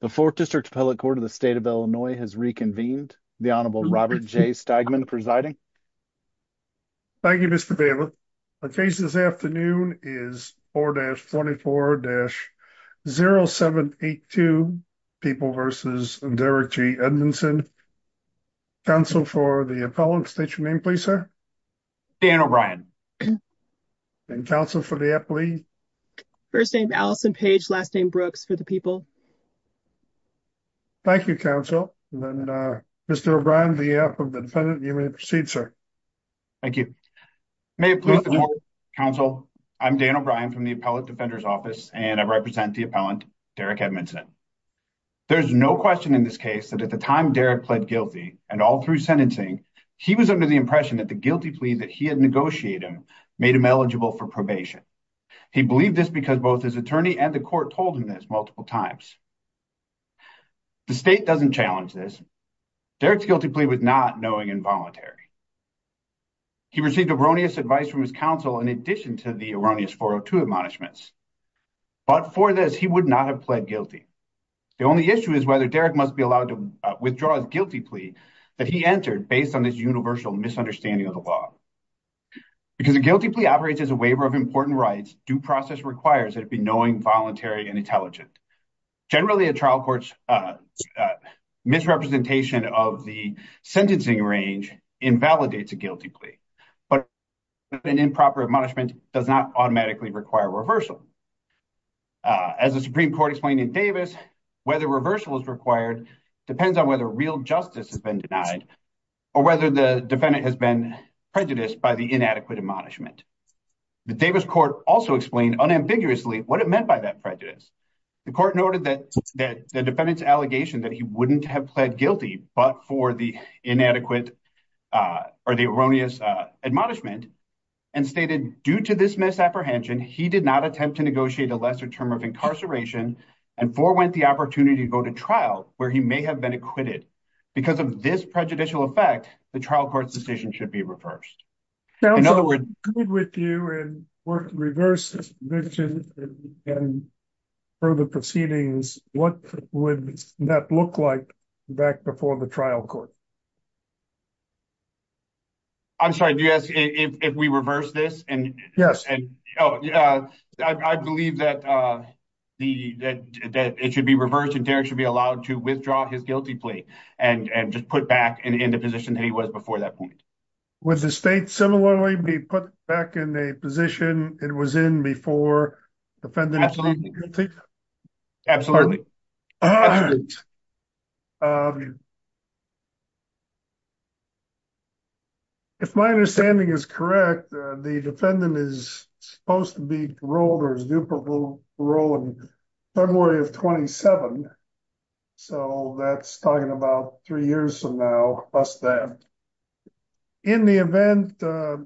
the fourth district appellate court of the state of illinois has reconvened the honorable robert j steigman presiding thank you mr baylor the case this afternoon is 4-24-0782 people versus derrick g edmondson council for the appellant state your name please sir dan o'brien and counsel for the appallee first name allison page last name brooks for people thank you counsel and uh mr o'brien the app of the defendant you may proceed sir thank you may it please counsel i'm dan o'brien from the appellate defender's office and i represent the appellant derrick edmondson there's no question in this case that at the time derrick pled guilty and all through sentencing he was under the impression that the guilty plea that he had negotiated made him eligible for probation he believed this because both his attorney and the court told him this multiple times the state doesn't challenge this derrick's guilty plea was not knowing and voluntary he received erroneous advice from his counsel in addition to the erroneous 402 admonishments but for this he would not have pled guilty the only issue is whether derrick must be allowed to withdraw his guilty plea that he entered based on this universal misunderstanding of the law because the guilty plea operates as a waiver of important rights due process requires that it be knowing voluntary and intelligent generally a trial court's uh misrepresentation of the sentencing range invalidates a guilty plea but an improper admonishment does not automatically require reversal as the supreme court explained in davis whether reversal is required depends on whether real justice has been denied or whether the defendant has been prejudiced by the inadequate admonishment the davis court also explained unambiguously what it meant by that prejudice the court noted that that the defendant's allegation that he wouldn't have pled guilty but for the inadequate uh or the erroneous uh admonishment and stated due to this misapprehension he did not attempt to negotiate a lesser term of incarceration and forewent the opportunity to go to trial where he may have been acquitted because of this prejudicial effect the trial court's decision should be reversed in other words good with you and work reverse this vision and for the proceedings what would that look like back before the trial court i'm sorry do you ask if we reverse this and yes and oh yeah i believe that uh the that that it should be reversed and derrick should be allowed to withdraw his guilty plea and and just put back in the position that he was before that point would the state similarly be put back in a position it was in before the defendant absolutely if my understanding is correct the defendant is supposed to be paroled or is due parole parole in february of 27 so that's talking about three years from now plus that in the event uh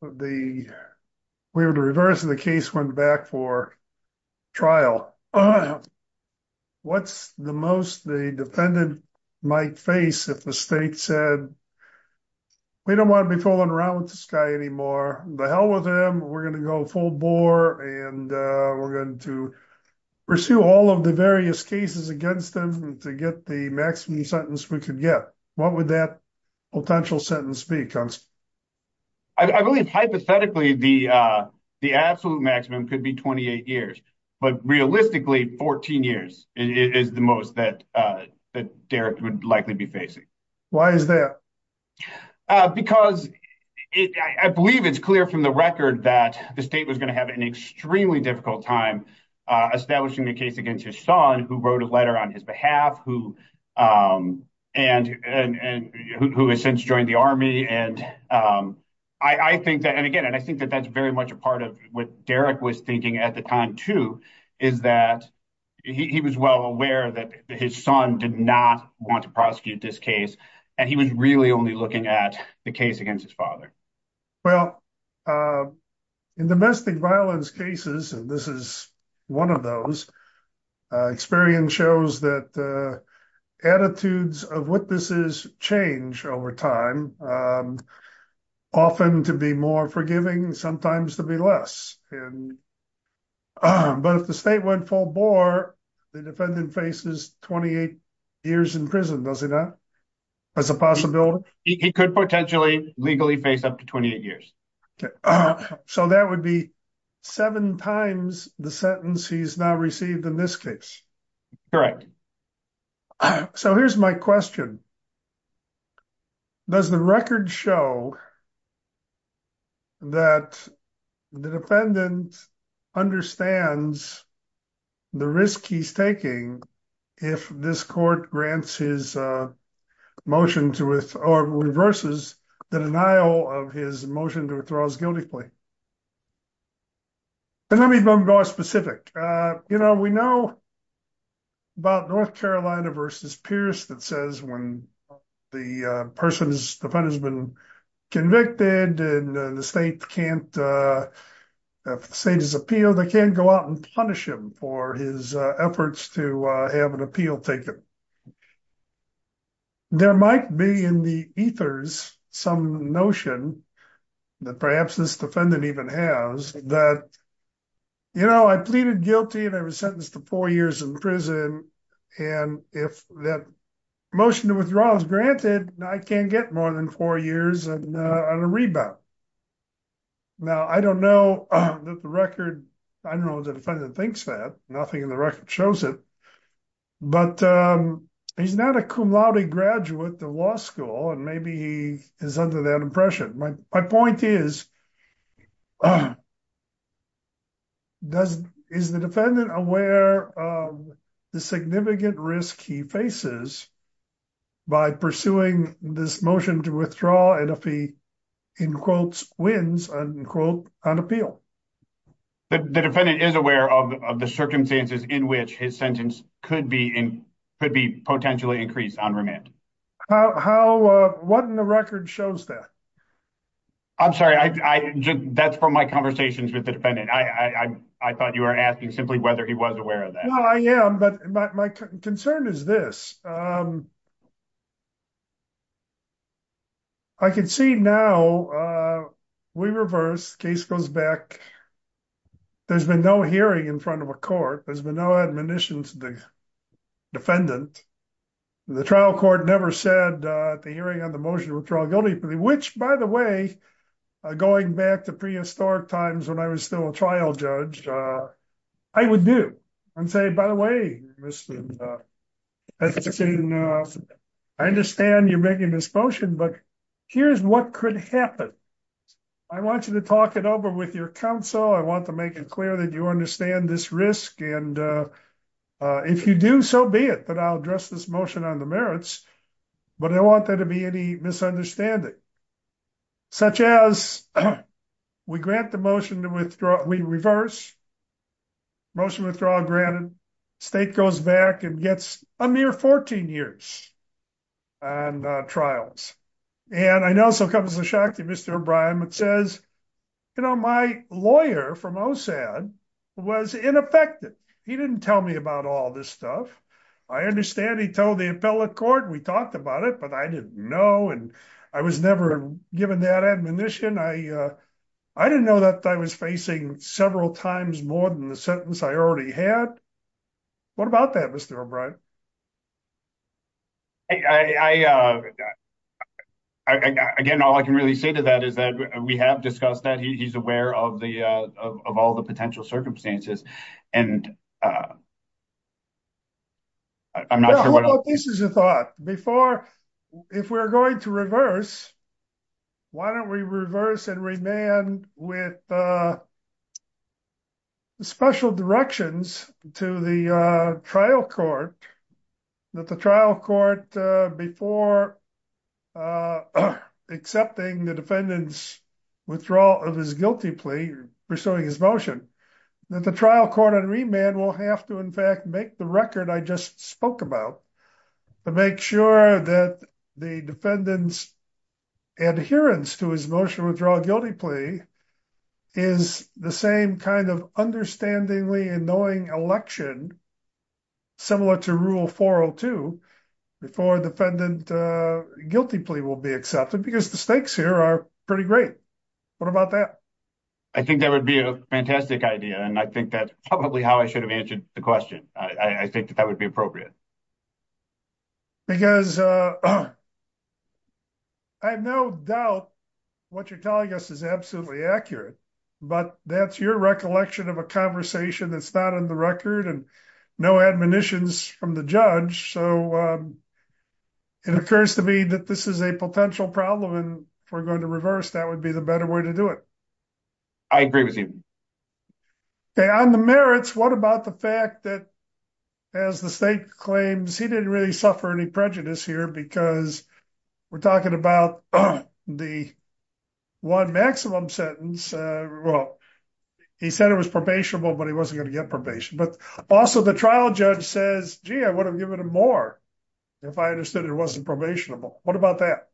the we were to reverse the case went back for trial what's the most the defendant might face if the state said we don't want to be fooling around with this guy anymore the hell with him we're gonna go full bore and uh we're going to pursue all of the various cases against them to get the maximum sentence we could get what would that potential sentence be i believe hypothetically the uh the absolute maximum could be 28 years but realistically 14 years is the most that uh that derrick would likely be facing why is that uh because it i believe it's clear from the record that the state was going to have an extremely difficult time uh establishing the case against his son who wrote a letter on his behalf who um and and and who has since joined the army and um i i think that and again and i think that that's very much a part of what derrick was thinking at the time too is that he was well aware that his son did not want to prosecute this case and he was really only looking at the case against his father well uh in domestic violence cases and this is one of those experience shows that uh attitudes of witnesses change over time um often to be more forgiving sometimes to be less and but if the state went full bore the defendant faces 28 years in prison does he not that's a possibility he could potentially legally face up to 28 years so that would be seven times the sentence he's now received in this case correct so here's my question does the record show that the defendant understands the risk he's taking if this court grants his uh motion to with or reverses the denial of his motion to withdraws guiltily and let me be more specific uh you know we know about north carolina versus pierce that says when the person's defendant has been convicted and the state can't uh if the state has appealed they can't go out and punish him for his uh efforts to uh have an appeal taken there might be in the ethers some notion that perhaps this defendant even has that you know i pleaded guilty and i was sentenced to four years in prison and if that motion to withdraw is granted i can't get more than four years and uh on a rebound now i don't know that the record i don't know what the defendant thinks that nothing in the record shows it but um he's not a cum laude graduate of law school and maybe he is under my my point is does is the defendant aware of the significant risk he faces by pursuing this motion to withdraw and if he in quotes wins and quote on appeal the defendant is aware of the circumstances in which his sentence could be in could be potentially increased on remand how how uh the record shows that i'm sorry i i that's from my conversations with the defendant i i i thought you were asking simply whether he was aware of that no i am but my concern is this um i can see now uh we reverse case goes back there's been no hearing in front of a court there's been no admonition to the defendant the trial court never said uh the hearing on motion to withdraw guilty which by the way uh going back to prehistoric times when i was still a trial judge uh i would do and say by the way mr uh i understand you're making this motion but here's what could happen i want you to talk it over with your counsel i want to make it clear that you understand this risk and uh uh if you do so be it that i'll address this motion on the merits but i don't want there to be any misunderstanding such as we grant the motion to withdraw we reverse motion withdrawal granted state goes back and gets a mere 14 years on uh trials and i know so comes to shock to mr o'brien it says you know my lawyer from osad was ineffective he didn't tell me about all this stuff i understand he told the appellate court we talked about it but i didn't know and i was never given that admonition i uh i didn't know that i was facing several times more than the sentence i already had what about that mr o'brien i i uh i again all i can really say to that is that we have discussed that he's aware of the uh of all the potential circumstances and uh i'm not sure what this is a thought before if we're going to reverse why don't we reverse and remain with uh special directions to the uh trial court that the trial court uh before uh accepting the defendant's withdrawal of his guilty plea pursuing his motion that the trial court on remand will have to in fact make the record i just spoke about to make sure that the defendant's adherence to his motion withdrawal guilty plea is the same kind of understandingly annoying election similar to rule 402 before defendant guilty plea will be accepted because the stakes here are pretty great what about that i think that would be a fantastic idea and i think that's probably how i should have answered the question i i think that that would be appropriate because uh i have no doubt what you're telling us is absolutely accurate but that's your recollection of a conversation that's and no admonitions from the judge so um it occurs to me that this is a potential problem and if we're going to reverse that would be the better way to do it i agree with you okay on the merits what about the fact that as the state claims he didn't really suffer any prejudice here because we're talking about the one maximum sentence uh well he said it was probationable but he wasn't going to get probation but also the trial judge says gee i would have given him more if i understood it wasn't probationable what about that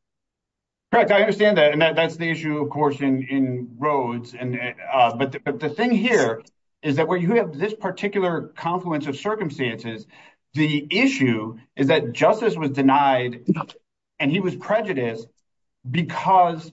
correct i understand that and that's the issue of course in in roads and uh but the thing here is that where you have this particular confluence of circumstances the issue is that justice was denied and he was prejudiced because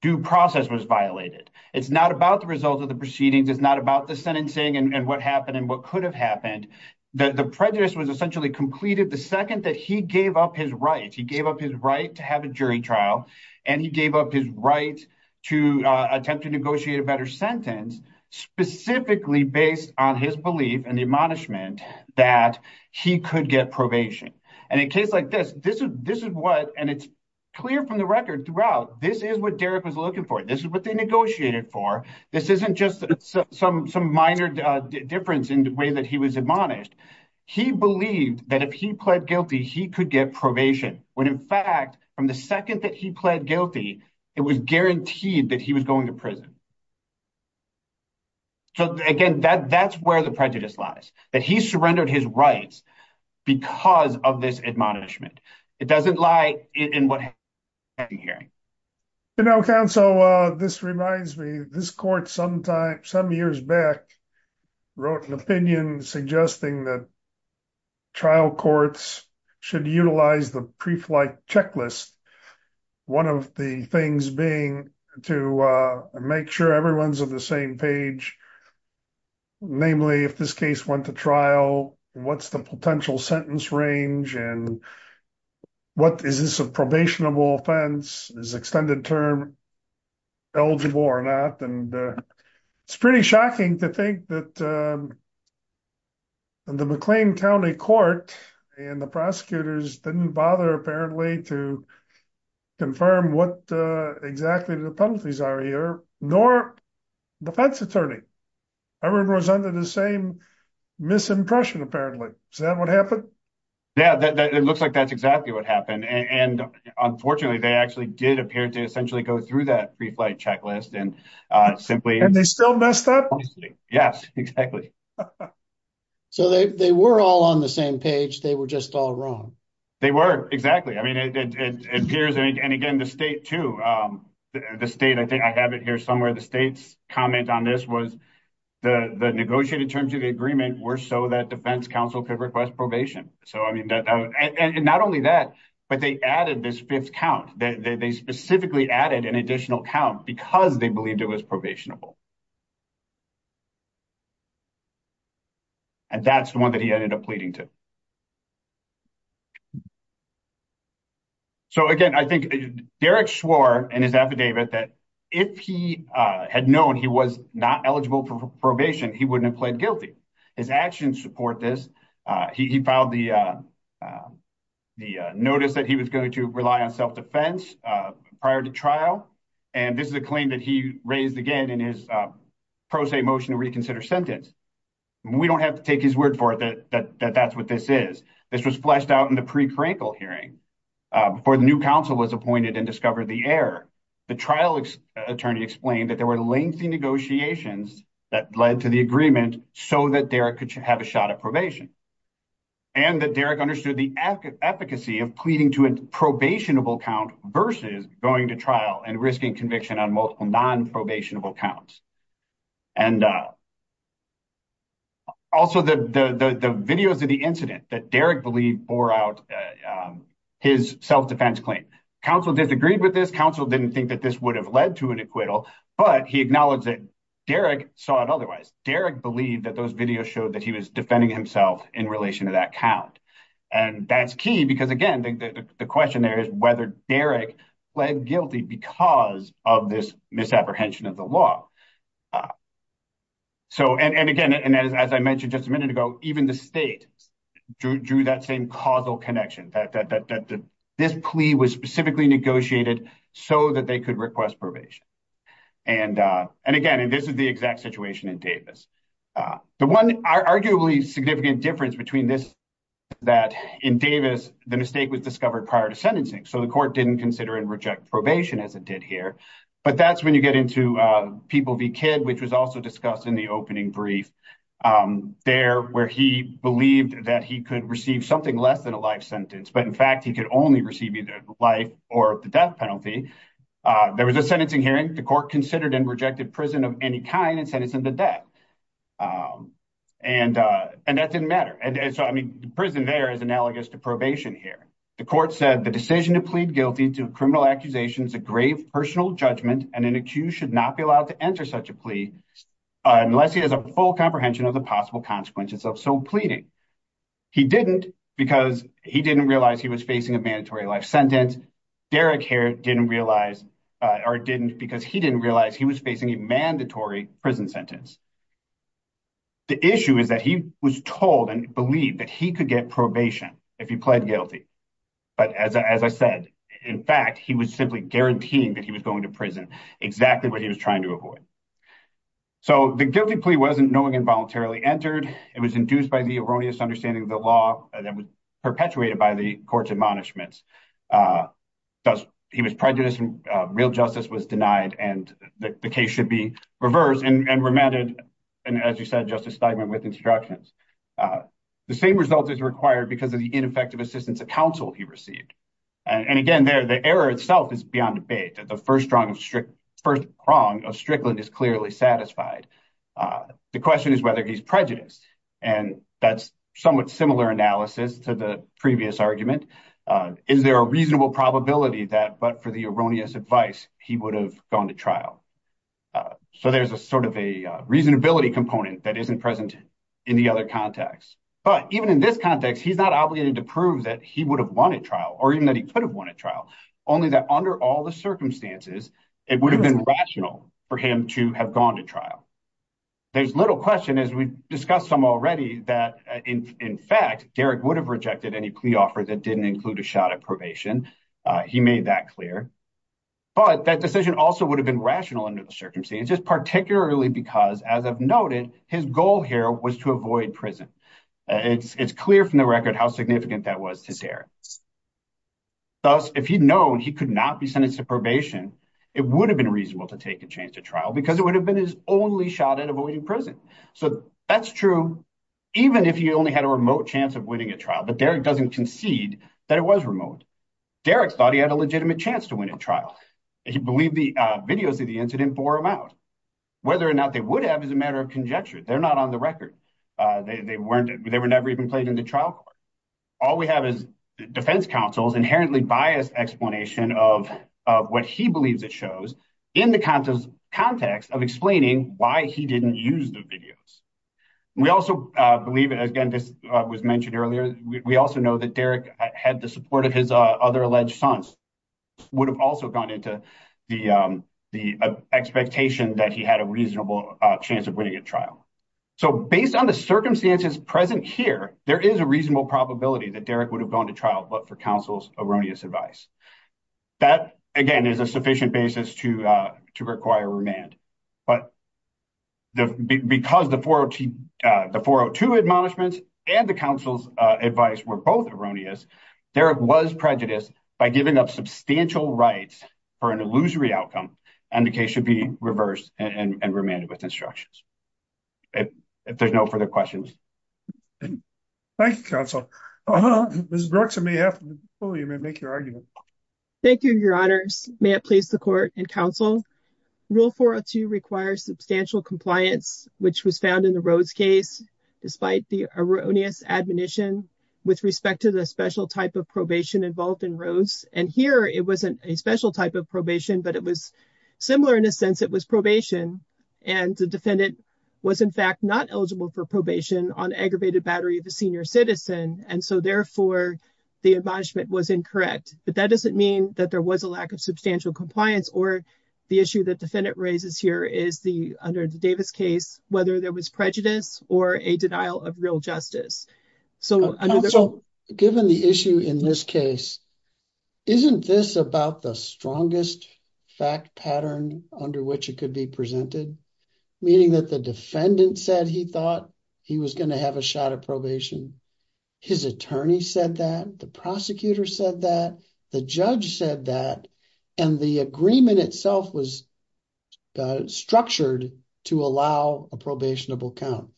due process was violated it's not about the result of the proceedings it's not about the sentencing and what happened and what could have happened that the prejudice was essentially completed the second that he gave up his right he gave up his right to have a jury trial and he gave up his right to uh attempt to negotiate a better sentence specifically based on his belief and the admonishment that he could get probation and case like this this is this is what and it's clear from the record throughout this is what derrick was looking for this is what they negotiated for this isn't just some some minor difference in the way that he was admonished he believed that if he pled guilty he could get probation when in fact from the second that he pled guilty it was guaranteed that he was going to prison so again that that's where the prejudice lies that he surrendered his rights because of this admonishment it doesn't lie in what hearing you know counsel uh this reminds me this court sometime some years back wrote an opinion suggesting that trial courts should utilize the pre-flight checklist one of the things being to uh make sure everyone's on the same page namely if this case went to trial what's the potential sentence range and what is this a probationable offense is extended term eligible or not and uh it's pretty shocking to think that uh the mcclain county court and the prosecutors didn't bother apparently to confirm what uh exactly the penalties are here nor defense attorney i remember was under the same misimpression apparently is that what happened yeah that it looks like that's exactly what happened and unfortunately they actually did appear to essentially go through that pre-flight checklist and uh simply and they still messed up yes exactly so they they were all on the it appears and again the state to um the state i think i have it here somewhere the state's comment on this was the the negotiated terms of the agreement were so that defense counsel could request probation so i mean that and not only that but they added this fifth count that they specifically added an additional count because they believed it was probationable and that's the one that he ended up pleading to so again i think derek swore in his affidavit that if he uh had known he was not eligible for probation he wouldn't have pled guilty his actions support this uh he filed the uh the notice that he was going to rely on self-defense uh prior to trial and this is a claim that he raised again in his uh pro se motion to reconsider sentence we don't have to take his word for it that that that's what this is this was fleshed out in the pre-crankle hearing before the new council was appointed and discovered the error the trial attorney explained that there were lengthy negotiations that led to the agreement so that derrick could have a shot at probation and that derrick understood the efficacy of pleading to a probationable count versus going to trial and risking conviction on multiple non-probationable counts and uh also the the the videos of the incident that derrick believed bore out his self-defense claim council disagreed with this council didn't think that this would have led to an acquittal but he acknowledged that derrick saw it otherwise derrick believed that those videos showed that he was defending himself in relation to that count and that's key because again the the question there is whether derrick pled guilty because of this misapprehension of the law so and again and as i mentioned just a minute ago even the state drew that same causal connection that that that this plea was specifically negotiated so that they could request probation and uh and again and this is the exact situation in davis uh the one arguably significant difference between this that in davis the mistake was discovered prior to sentencing so the court didn't consider and reject probation as it did here but that's when you get into uh people v kid which was also discussed in the opening brief um there where he believed that he could receive something less than a life sentence but in fact he could only receive either life or the death penalty uh there was a sentencing hearing the court considered and rejected prison of any kind and sentencing the death um and uh and that didn't matter and so i mean the prison there is analogous to probation here the court said the decision to plead guilty to criminal accusations a grave personal judgment and an accused should not be allowed to enter such a plea unless he has a full comprehension of the possible consequences of so pleading he didn't because he didn't realize he was facing a mandatory life sentence derrick here didn't realize or didn't because he didn't realize he was facing a mandatory prison sentence the issue is that he was told and believed that he could get probation if he pled guilty but as i said in fact he was simply guaranteeing that he was going to prison exactly what he was trying to avoid so the guilty plea wasn't knowing and voluntarily entered it was induced by the erroneous understanding of the law that was perpetuated by the court's admonishments uh thus he was prejudiced and real justice was denied and the case should be reversed and remanded and as you said justice steigman with instructions uh the same result is required because of the ineffective assistance of counsel he received and again there the error itself is beyond debate that the first strong strict first prong of strickland is clearly satisfied uh the question is whether he's prejudiced and that's somewhat similar analysis to the previous argument uh is there a reasonable probability that but for the erroneous advice he would have gone to trial so there's a sort of a reasonability component that isn't present in the other context but even in this context he's not obligated to prove that he would have won at trial or even that he could have won at trial only that under all the circumstances it would have been rational for him to have gone to trial there's little question as we discussed some already that in in fact derrick would have rejected any plea offer that didn't include a shot at probation uh he made that clear but that decision also would have been rational under the circumstances just particularly because as i've noted his goal here was to avoid prison it's it's clear from the record how significant that was to sarah thus if he'd known he could not be sentenced to probation it would have been reasonable to take a change to trial because it would have been his only shot at avoiding prison so that's true even if he only had a remote chance of winning a trial but derrick doesn't concede that it was remote derrick thought he had a out whether or not they would have as a matter of conjecture they're not on the record uh they weren't they were never even played in the trial court all we have is defense counsel's inherently biased explanation of of what he believes it shows in the context of explaining why he didn't use the videos we also uh believe it again this was mentioned earlier we also know that derrick had the support of his uh other alleged sons would have also gone into the um the expectation that he had a reasonable chance of winning a trial so based on the circumstances present here there is a reasonable probability that derrick would have gone to trial but for counsel's erroneous advice that again is a sufficient basis to uh to require remand but because the 402 admonishments and the counsel's uh advice were both erroneous derrick was prejudiced by giving up substantial rights for an illusory outcome and the case should be reversed and remanded with instructions if there's no further questions thank you counsel uh huh mrs bruxa may have to make your argument thank you your honors may i please the court and counsel rule 402 requires substantial compliance which was found in the rose case despite the erroneous admonition with respect to the special type of probation involved in rose and here it wasn't a special type of probation but it was similar in a sense it was probation and the defendant was in fact not eligible for probation on aggravated battery of a senior citizen and so therefore the admonishment was incorrect but that doesn't mean that there was a lack of substantial compliance or the issue that defendant raises here is the under the davis case whether there was prejudice or a denial of real justice so given the issue in this case isn't this about the strongest fact pattern under which it could be presented meaning that the defendant said he thought he was going to have a shot at probation his attorney said that the prosecutor said that the judge said that and the agreement itself was uh structured to allow a probationable count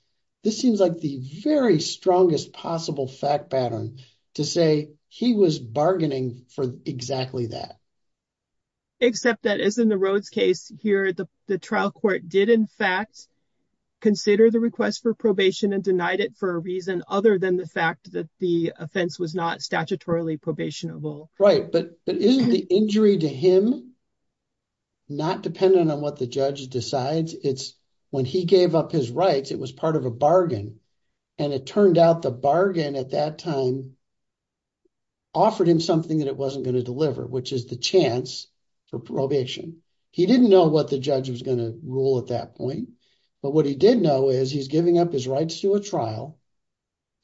this seems like the very strongest possible fact pattern to say he was bargaining for exactly that except that is in the road's case here the the trial court did in fact consider the request for probation and denied it for a reason other than the fact that the offense was not statutorily probationable right but but isn't the injury to him not dependent on what the judge decides it's when he gave up his rights it was part of a bargain and it turned out the bargain at that time offered him something that it wasn't going to deliver which is the chance for probation he didn't know what the judge was going to rule at that point but what he did know is he's giving up his rights to a trial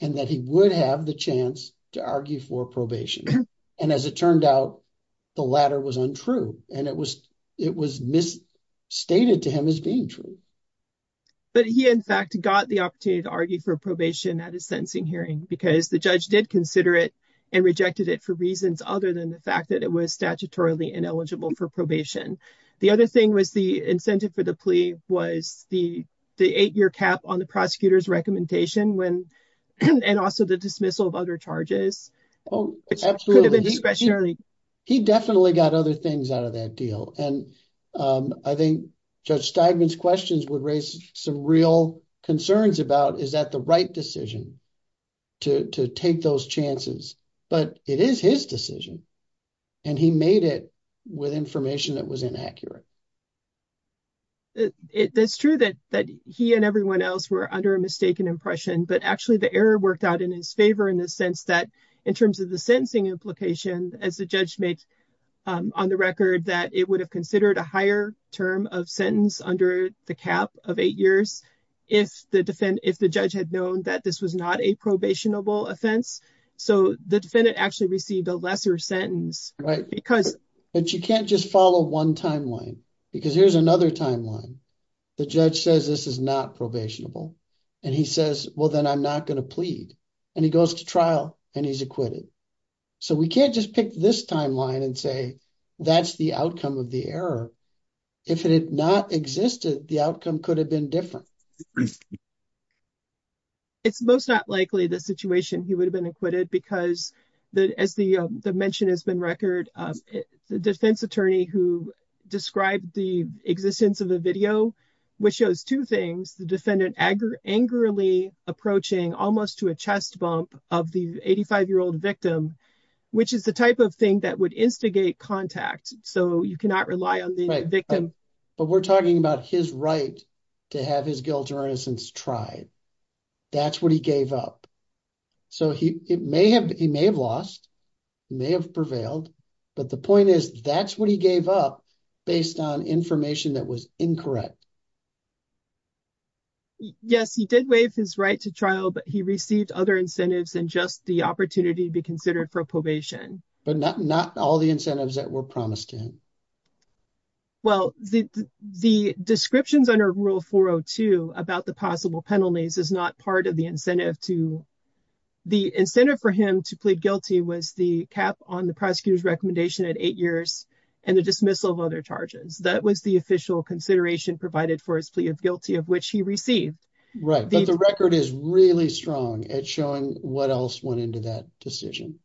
and that he would have the chance to argue for probation and as it turned out the latter was untrue and it was it was misstated to him as being true but he in fact got the opportunity to argue for probation at his sentencing hearing because the judge did consider it and rejected it for reasons other than the fact that it was statutorily ineligible for probation the other thing was the incentive for the plea was the the eight-year cap on the prosecutor's recommendation when and also the dismissal of charges oh absolutely he definitely got other things out of that deal and um i think judge steinman's questions would raise some real concerns about is that the right decision to to take those chances but it is his decision and he made it with information that was inaccurate it's true that that he and everyone else were under a mistaken impression but actually the worked out in his favor in the sense that in terms of the sentencing implication as the judge makes on the record that it would have considered a higher term of sentence under the cap of eight years if the defendant if the judge had known that this was not a probationable offense so the defendant actually received a lesser sentence right because but you can't just follow one timeline because here's another timeline the judge says this is not probationable and he says well then i'm not going to plead and he goes to trial and he's acquitted so we can't just pick this timeline and say that's the outcome of the error if it had not existed the outcome could have been different it's most not likely the situation he would have been acquitted because the as the the mention has been record the defense attorney who described the existence of the video which shows two things the defendant anger angrily approaching almost to a chest bump of the 85 year old victim which is the type of thing that would instigate contact so you cannot rely on the victim but we're talking about his right to have his guilt or innocence tried that's what he gave up so he it may have he may have lost may have prevailed but the point is that's what he gave up on information that was incorrect yes he did waive his right to trial but he received other incentives and just the opportunity to be considered for probation but not not all the incentives that were promised to him well the the descriptions under rule 402 about the possible penalties is not part of the incentive to the incentive for him to plead guilty was the cap on the that was the official consideration provided for his plea of guilty of which he received right but the record is really strong at showing what else went into that decision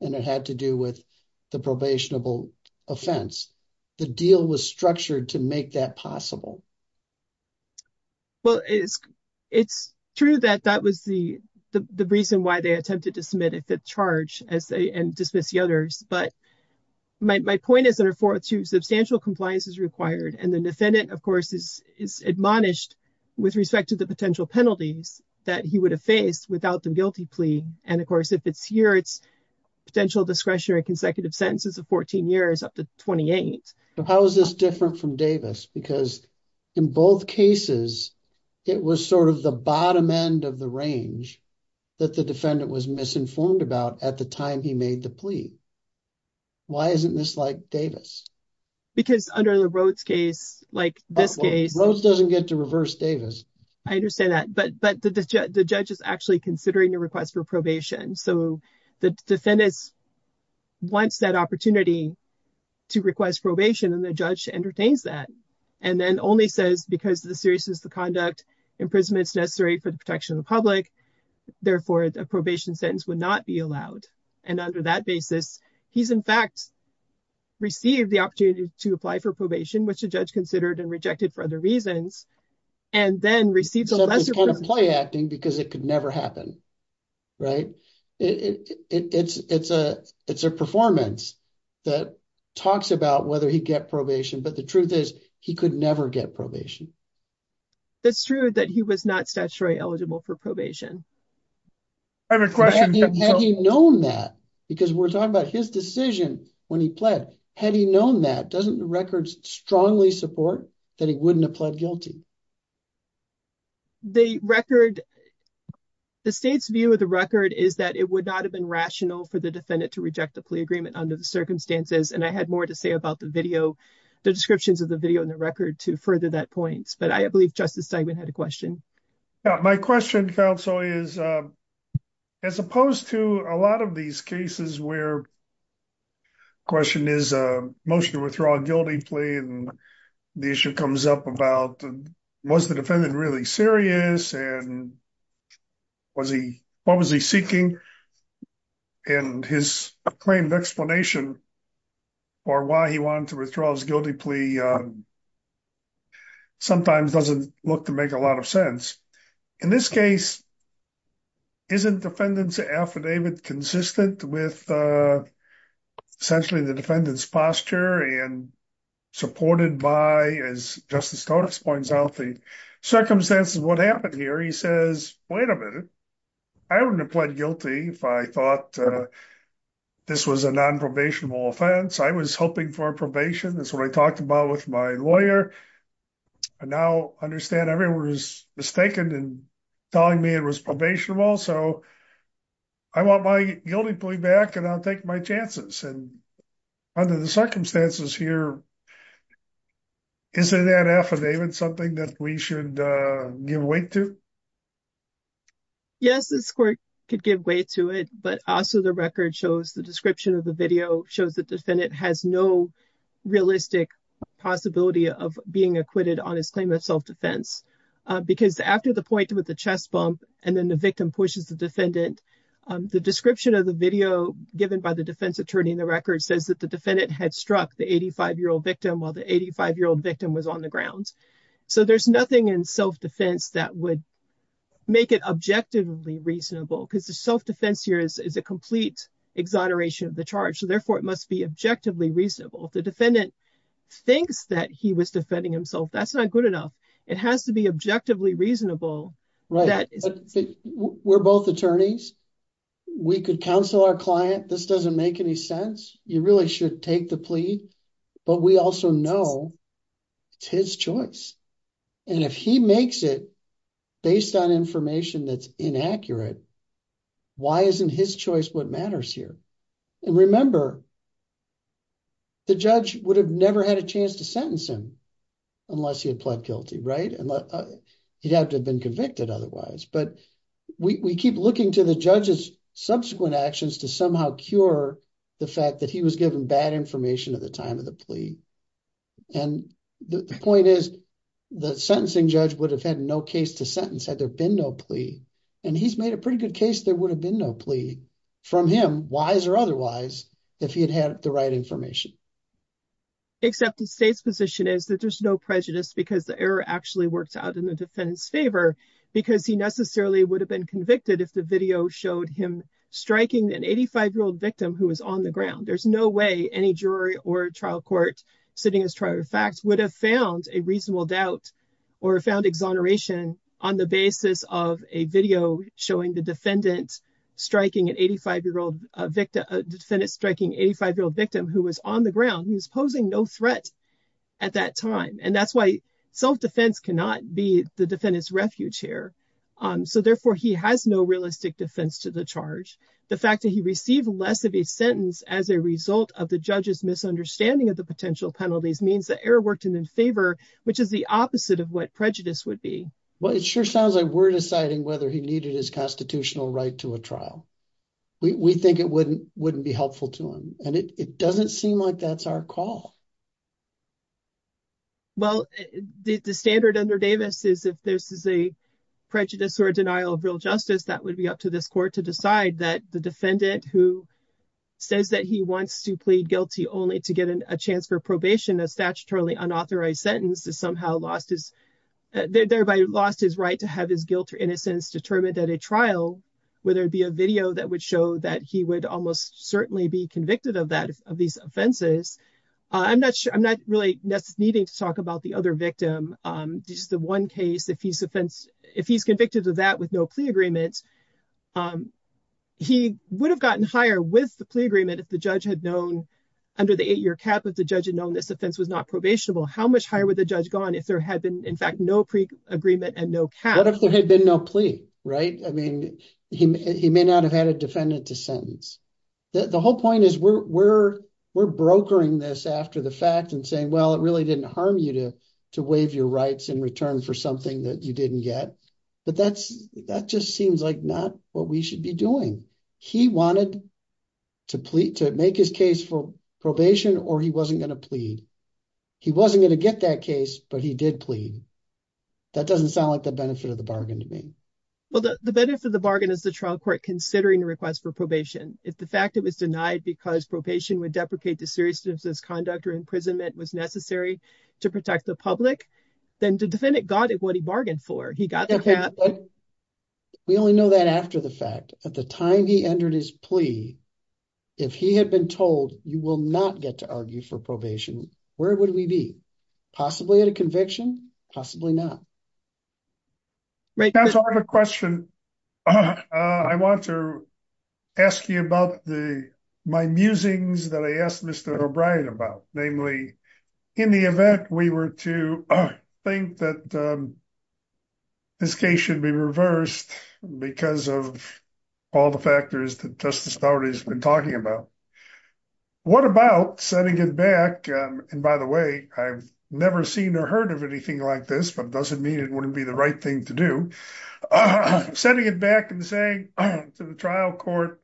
and it had to do with the probationable offense the deal was structured to make that possible well it's it's true that that was the the reason why they attempted to submit if the charge as they but my point is under 402 substantial compliance is required and the defendant of course is is admonished with respect to the potential penalties that he would have faced without the guilty plea and of course if it's here it's potential discretionary consecutive sentences of 14 years up to 28. So how is this different from Davis because in both cases it was sort of the bottom end of the range that the defendant was misinformed about at the time he made the plea why isn't this like Davis because under the Rhodes case like this case Rhodes doesn't get to reverse Davis I understand that but but the judge is actually considering a request for probation so the defendants wants that opportunity to request probation and the judge entertains that and then only says because of the seriousness of conduct imprisonment is necessary for the protection of the public therefore a probation sentence would not be allowed and under that basis he's in fact received the opportunity to apply for probation which the judge considered and rejected for other reasons and then receives a lesser kind of play acting because it could never happen right it it's it's a it's a performance that talks about whether he get probation but the truth is he could never get probation that's true that he was not statutory eligible for probation I have a question have you known that because we're talking about his decision when he pled had he known that doesn't the records strongly support that he wouldn't have pled guilty the record the state's view of the record is that it would not have been rational for the defendant to reject the plea agreement under the circumstances and I had more to say about the video the descriptions of the video in the record to further that points but I believe justice segment had a question my question counsel is as opposed to a lot of these cases where question is a motion to withdraw a guilty plea and the issue comes up about was the defendant really serious and was he what was he seeking and his acclaimed explanation for why he wanted to withdraw his guilty plea sometimes doesn't look to make a lot of sense in this case isn't defendant's affidavit consistent with essentially the defendant's posture and supported by as justice totes points out the circumstances what happened here he says wait a minute I wouldn't have pled guilty if I thought this was a non-probationable offense I was hoping for probation that's what I talked about with my lawyer I now understand everyone was mistaken and telling me it was probationable so I want my guilty plea back and I'll take my chances and under the circumstances here isn't that affidavit something that we should give weight to yes this court could give way to it but also the record shows the description of the video shows the defendant has no realistic possibility of being acquitted on his claim of self-defense because after the point with the chest bump and then the victim pushes the defendant the description of the video given by the defense attorney in the record says that the defendant had struck the 85 year old victim while the 85 year old victim was on the ground so there's nothing in self-defense that would make it objectively reasonable because the self-defense here is a complete exoneration of the charge so therefore it must be objectively reasonable if the defendant thinks that he was defending himself that's not good enough it has to be objectively reasonable right we're both attorneys we could counsel our client this doesn't make any sense you really should take the plea but we also know it's his choice and if he makes it based on information that's inaccurate why isn't his choice what matters here and remember the judge would have never had a chance to sentence him unless he had pled guilty right and he'd have to have been convicted otherwise but we keep looking to the judge's subsequent actions to somehow cure the fact that he was given bad information at the time of the plea and the point is the sentencing judge would have had no case to sentence had there been no plea and he's made a pretty good case there would have been no plea from him wise or otherwise if he had had the right information except the state's position is that there's no prejudice because the error actually worked out in the defendant's favor because he necessarily would have been convicted if the video showed him striking an 85 year old victim who was on the ground there's no way any jury or trial court sitting as trial facts would have found a reasonable doubt or found exoneration on the basis of a video showing the defendant striking an 85 year old victim a defendant striking 85 year old victim who was on the ground he was posing no threat at that time and that's why self-defense cannot be the defendant's refuge here so therefore he has no realistic defense to the charge the fact that he received less of a sentence as a result of the judge's misunderstanding of the potential penalties means that error worked him in favor which is the opposite of what prejudice would be well it sure sounds like we're deciding whether he needed his constitutional right to a trial we think it wouldn't wouldn't be helpful to him and it doesn't seem like that's our call well the standard under davis is if this is a prejudice or denial of real justice that would be up to this court to decide that the defendant who says that he wants to plead guilty only to get a chance for probation a statutorily unauthorized sentence is somehow lost his thereby lost his right to have his guilt or innocence determined at a trial whether it be a video that would show that he would almost certainly be convicted of that of these offenses i'm not sure i'm not really needing to talk about the other victim just the one case if he's offense if he's convicted of that with no plea agreements he would have gotten higher with the plea agreement if the judge had known under the eight-year cap if the judge had known this offense was not probationable how much higher would the judge gone if there had been in fact no pre-agreement and no cap what if there had been no plea right i mean he may not have had a defendant to sentence the whole point is we're we're we're brokering this after the fact and saying well it really didn't harm you to to waive your rights in return for something that you didn't get but that's that just seems like not what we should be doing he wanted to plead to make his case for probation or he wasn't going to plead he wasn't going to get that case but he did plead that doesn't sound like the benefit of the bargain to me well the benefit of the bargain is the trial court considering the request for probation if the fact it was denied because probation would deprecate the seriousness conduct or imprisonment was necessary to protect the public then the cap we only know that after the fact at the time he entered his plea if he had been told you will not get to argue for probation where would we be possibly at a conviction possibly not right now so i have a question i want to ask you about the my musings that i asked mr o'brien about namely in the event we were to think that this case should be reversed because of all the factors that justice authorities have been talking about what about setting it back and by the way i've never seen or heard of anything like this but doesn't mean it wouldn't be the right thing to do i'm sending it back and saying to the trial court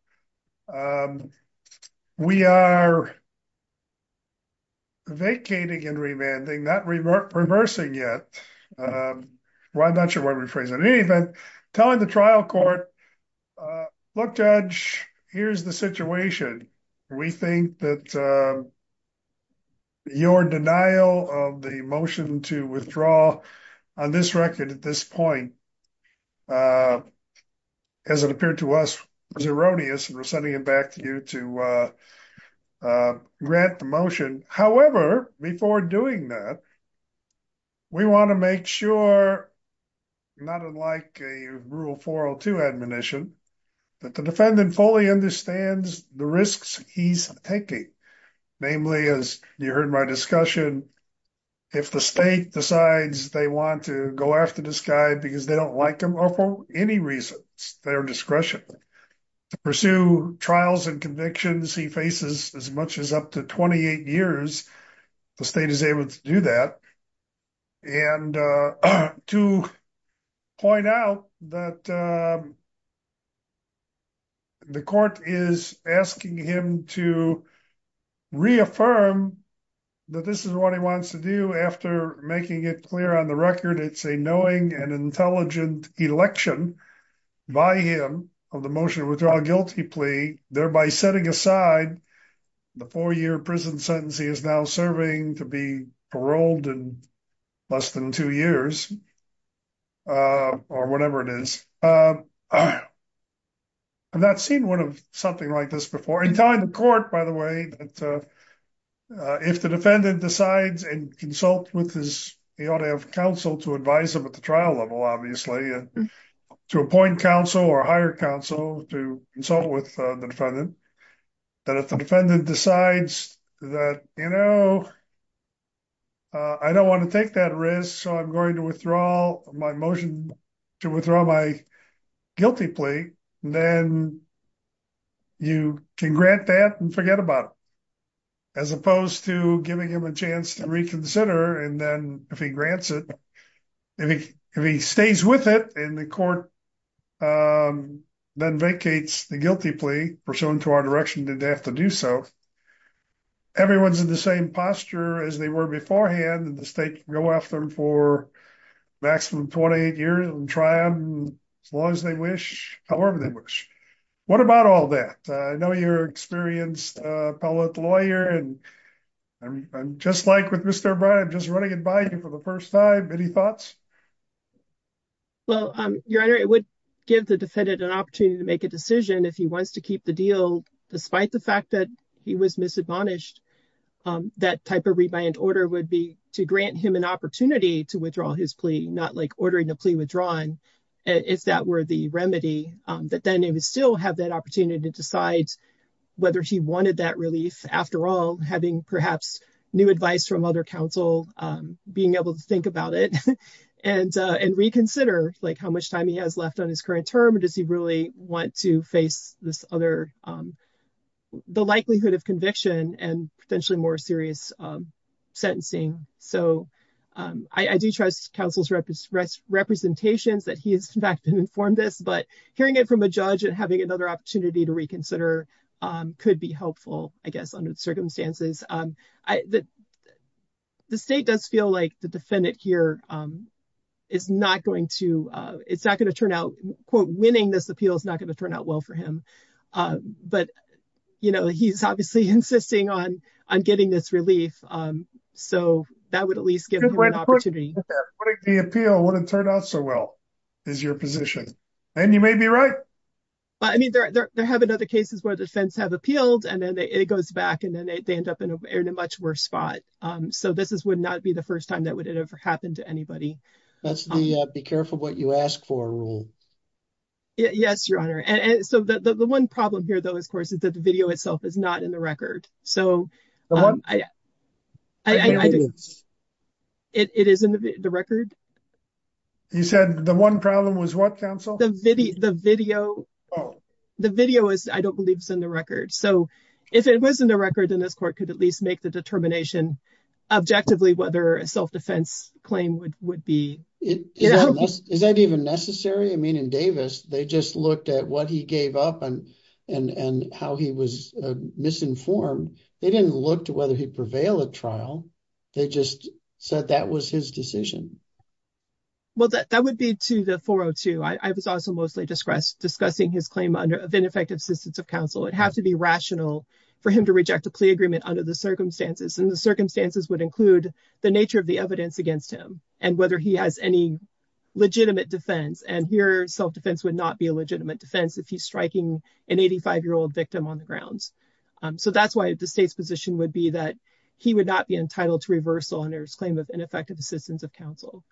we are vacating and revanding not reversing yet well i'm not sure what we're phrasing in any event telling the trial court look judge here's the situation we think that uh your denial of the motion to withdraw on this record at this point uh as it appeared to us was erroneous and we're sending it back to you to uh grant the motion however before doing that we want to make sure not unlike a rule 402 admonition that the defendant fully understands the risks he's taking namely as you heard my discussion if the state decides they want to go after this guy because they don't like him or for any reason it's their discretion to pursue trials and convictions he faces as much as up to 28 years the state is able to do that and uh to point out that the court is asking him to reaffirm that this is what he wants to do after making it clear on the record it's a knowing and intelligent election by him of the motion withdrawal guilty plea thereby setting aside the four-year prison sentence he is now serving to be paroled in less than two years uh or whatever it is um i've not seen one of something like this before in time the court by the way that uh if the defendant decides and consult with his he ought to have counsel to advise him at the trial level obviously to appoint counsel or hire counsel to consult with the defendant that if the defendant decides that you know i don't want to take that risk so i'm going to withdraw my motion to withdraw my guilty plea then you can grant that and forget about it as opposed to giving him a chance to reconsider and then if he grants it if he if he stays with it and the court um then vacates the guilty plea pursuant to our direction did they have to do so everyone's in the same posture as they were beforehand and the state can go after them for maximum 28 years and try them as long as they wish however they wish what about all that i know you're experienced uh appellate lawyer and i'm just like with mr brown i'm just running it by you for the well um your honor it would give the defendant an opportunity to make a decision if he wants to keep the deal despite the fact that he was misadmonished um that type of rebuyant order would be to grant him an opportunity to withdraw his plea not like ordering a plea withdrawn if that were the remedy um that then he would still have that opportunity to decide whether he wanted that relief after all having perhaps new advice from other counsel um being reconsidered like how much time he has left on his current term or does he really want to face this other um the likelihood of conviction and potentially more serious um sentencing so um i i do trust counsel's representations that he has in fact been informed this but hearing it from a judge and having another opportunity to reconsider um could be helpful i guess under the circumstances um i that the state does feel like the defendant here um is not going to uh it's not going to turn out quote winning this appeal is not going to turn out well for him um but you know he's obviously insisting on on getting this relief um so that would at least give him an opportunity the appeal wouldn't turn out so well is your position and you may be right i mean there have been other cases where defense have appealed and then it goes back and then they end up in a much worse spot um so this is would not be the first time that would ever happen to anybody that's the uh be careful what you ask for rule yes your honor and so the the one problem here though of course is that the video itself is not in the record so um i i i think it is in the record you said the one problem was what counsel the video the video oh the video is i don't believe in the record so if it was in the record then this court could at least make the determination objectively whether a self-defense claim would would be it is that even necessary i mean in davis they just looked at what he gave up and and and how he was misinformed they didn't look to whether he'd prevail at trial they just said that was his decision well that that would be to the i was also mostly discussed discussing his claim under of ineffective assistance of counsel it has to be rational for him to reject a plea agreement under the circumstances and the circumstances would include the nature of the evidence against him and whether he has any legitimate defense and here self-defense would not be a legitimate defense if he's striking an 85 year old victim on the grounds um so that's why the state's position would be that he would not be entitled to reversal under his claim of ineffective assistance of counsel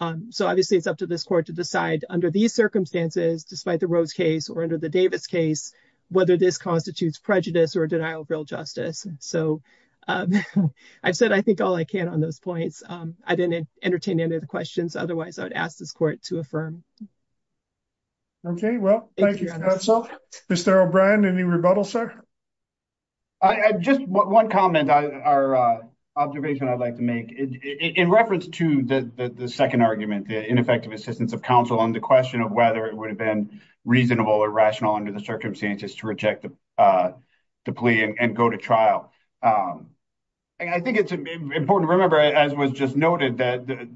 um so obviously it's up to this court to decide under these circumstances despite the rose case or under the davis case whether this constitutes prejudice or denial of real justice so um i said i think all i can on those points um i didn't entertain any of the questions otherwise i would ask this court to affirm okay well thank you mr o'brien any rebuttal sir i i just one comment i our observation i'd like to make in reference to the the second argument the ineffective assistance of counsel on the question of whether it would have been reasonable or rational under the circumstances to reject the uh the plea and go to trial um i think it's important to remember as was just noted that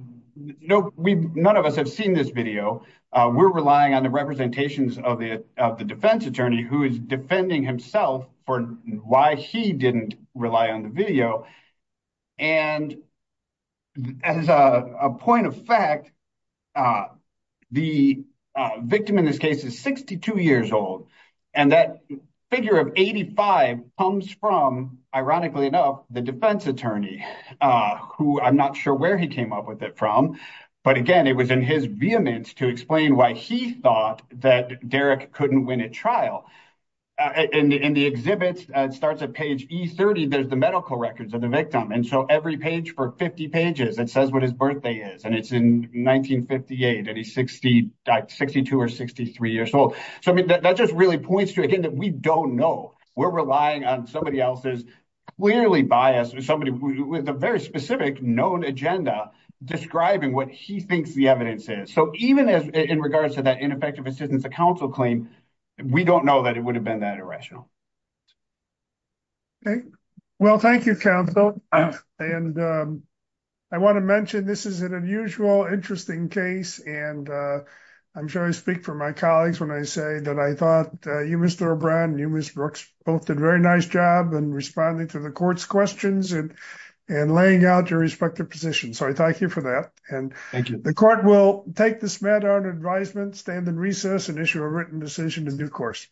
no we none of us have seen this video uh we're relying on the representations of the of the defense attorney who is defending himself for why he didn't rely on the video and as a point of fact uh the victim in this case is 62 years old and that figure of 85 comes from ironically enough the defense attorney uh who i'm not sure where he came up with it from but again it was in his vehemence to explain why he thought that derrick couldn't win a trial in the exhibits it starts at page e30 there's the medical records of the victim and so every page for 50 pages it says what his birthday is and it's in 1958 and he's 60 62 or 63 years old so i mean that just really points to again that we don't know we're relying on somebody else's clearly biased with somebody with a very specific known agenda describing what he thinks the evidence is so even as in regards to that ineffective assistance a council claim we don't know that it would have been that irrational okay well thank you counsel and i want to mention this is an unusual interesting case and uh i'm sure i speak for my colleagues when i say that i thought uh you mr o'brien and you miss brooks both did very nice job in responding to the court's questions and and laying out your respective positions so i thank you for that and thank you the court will take this matter on advisement stand in recess and issue a written decision in due course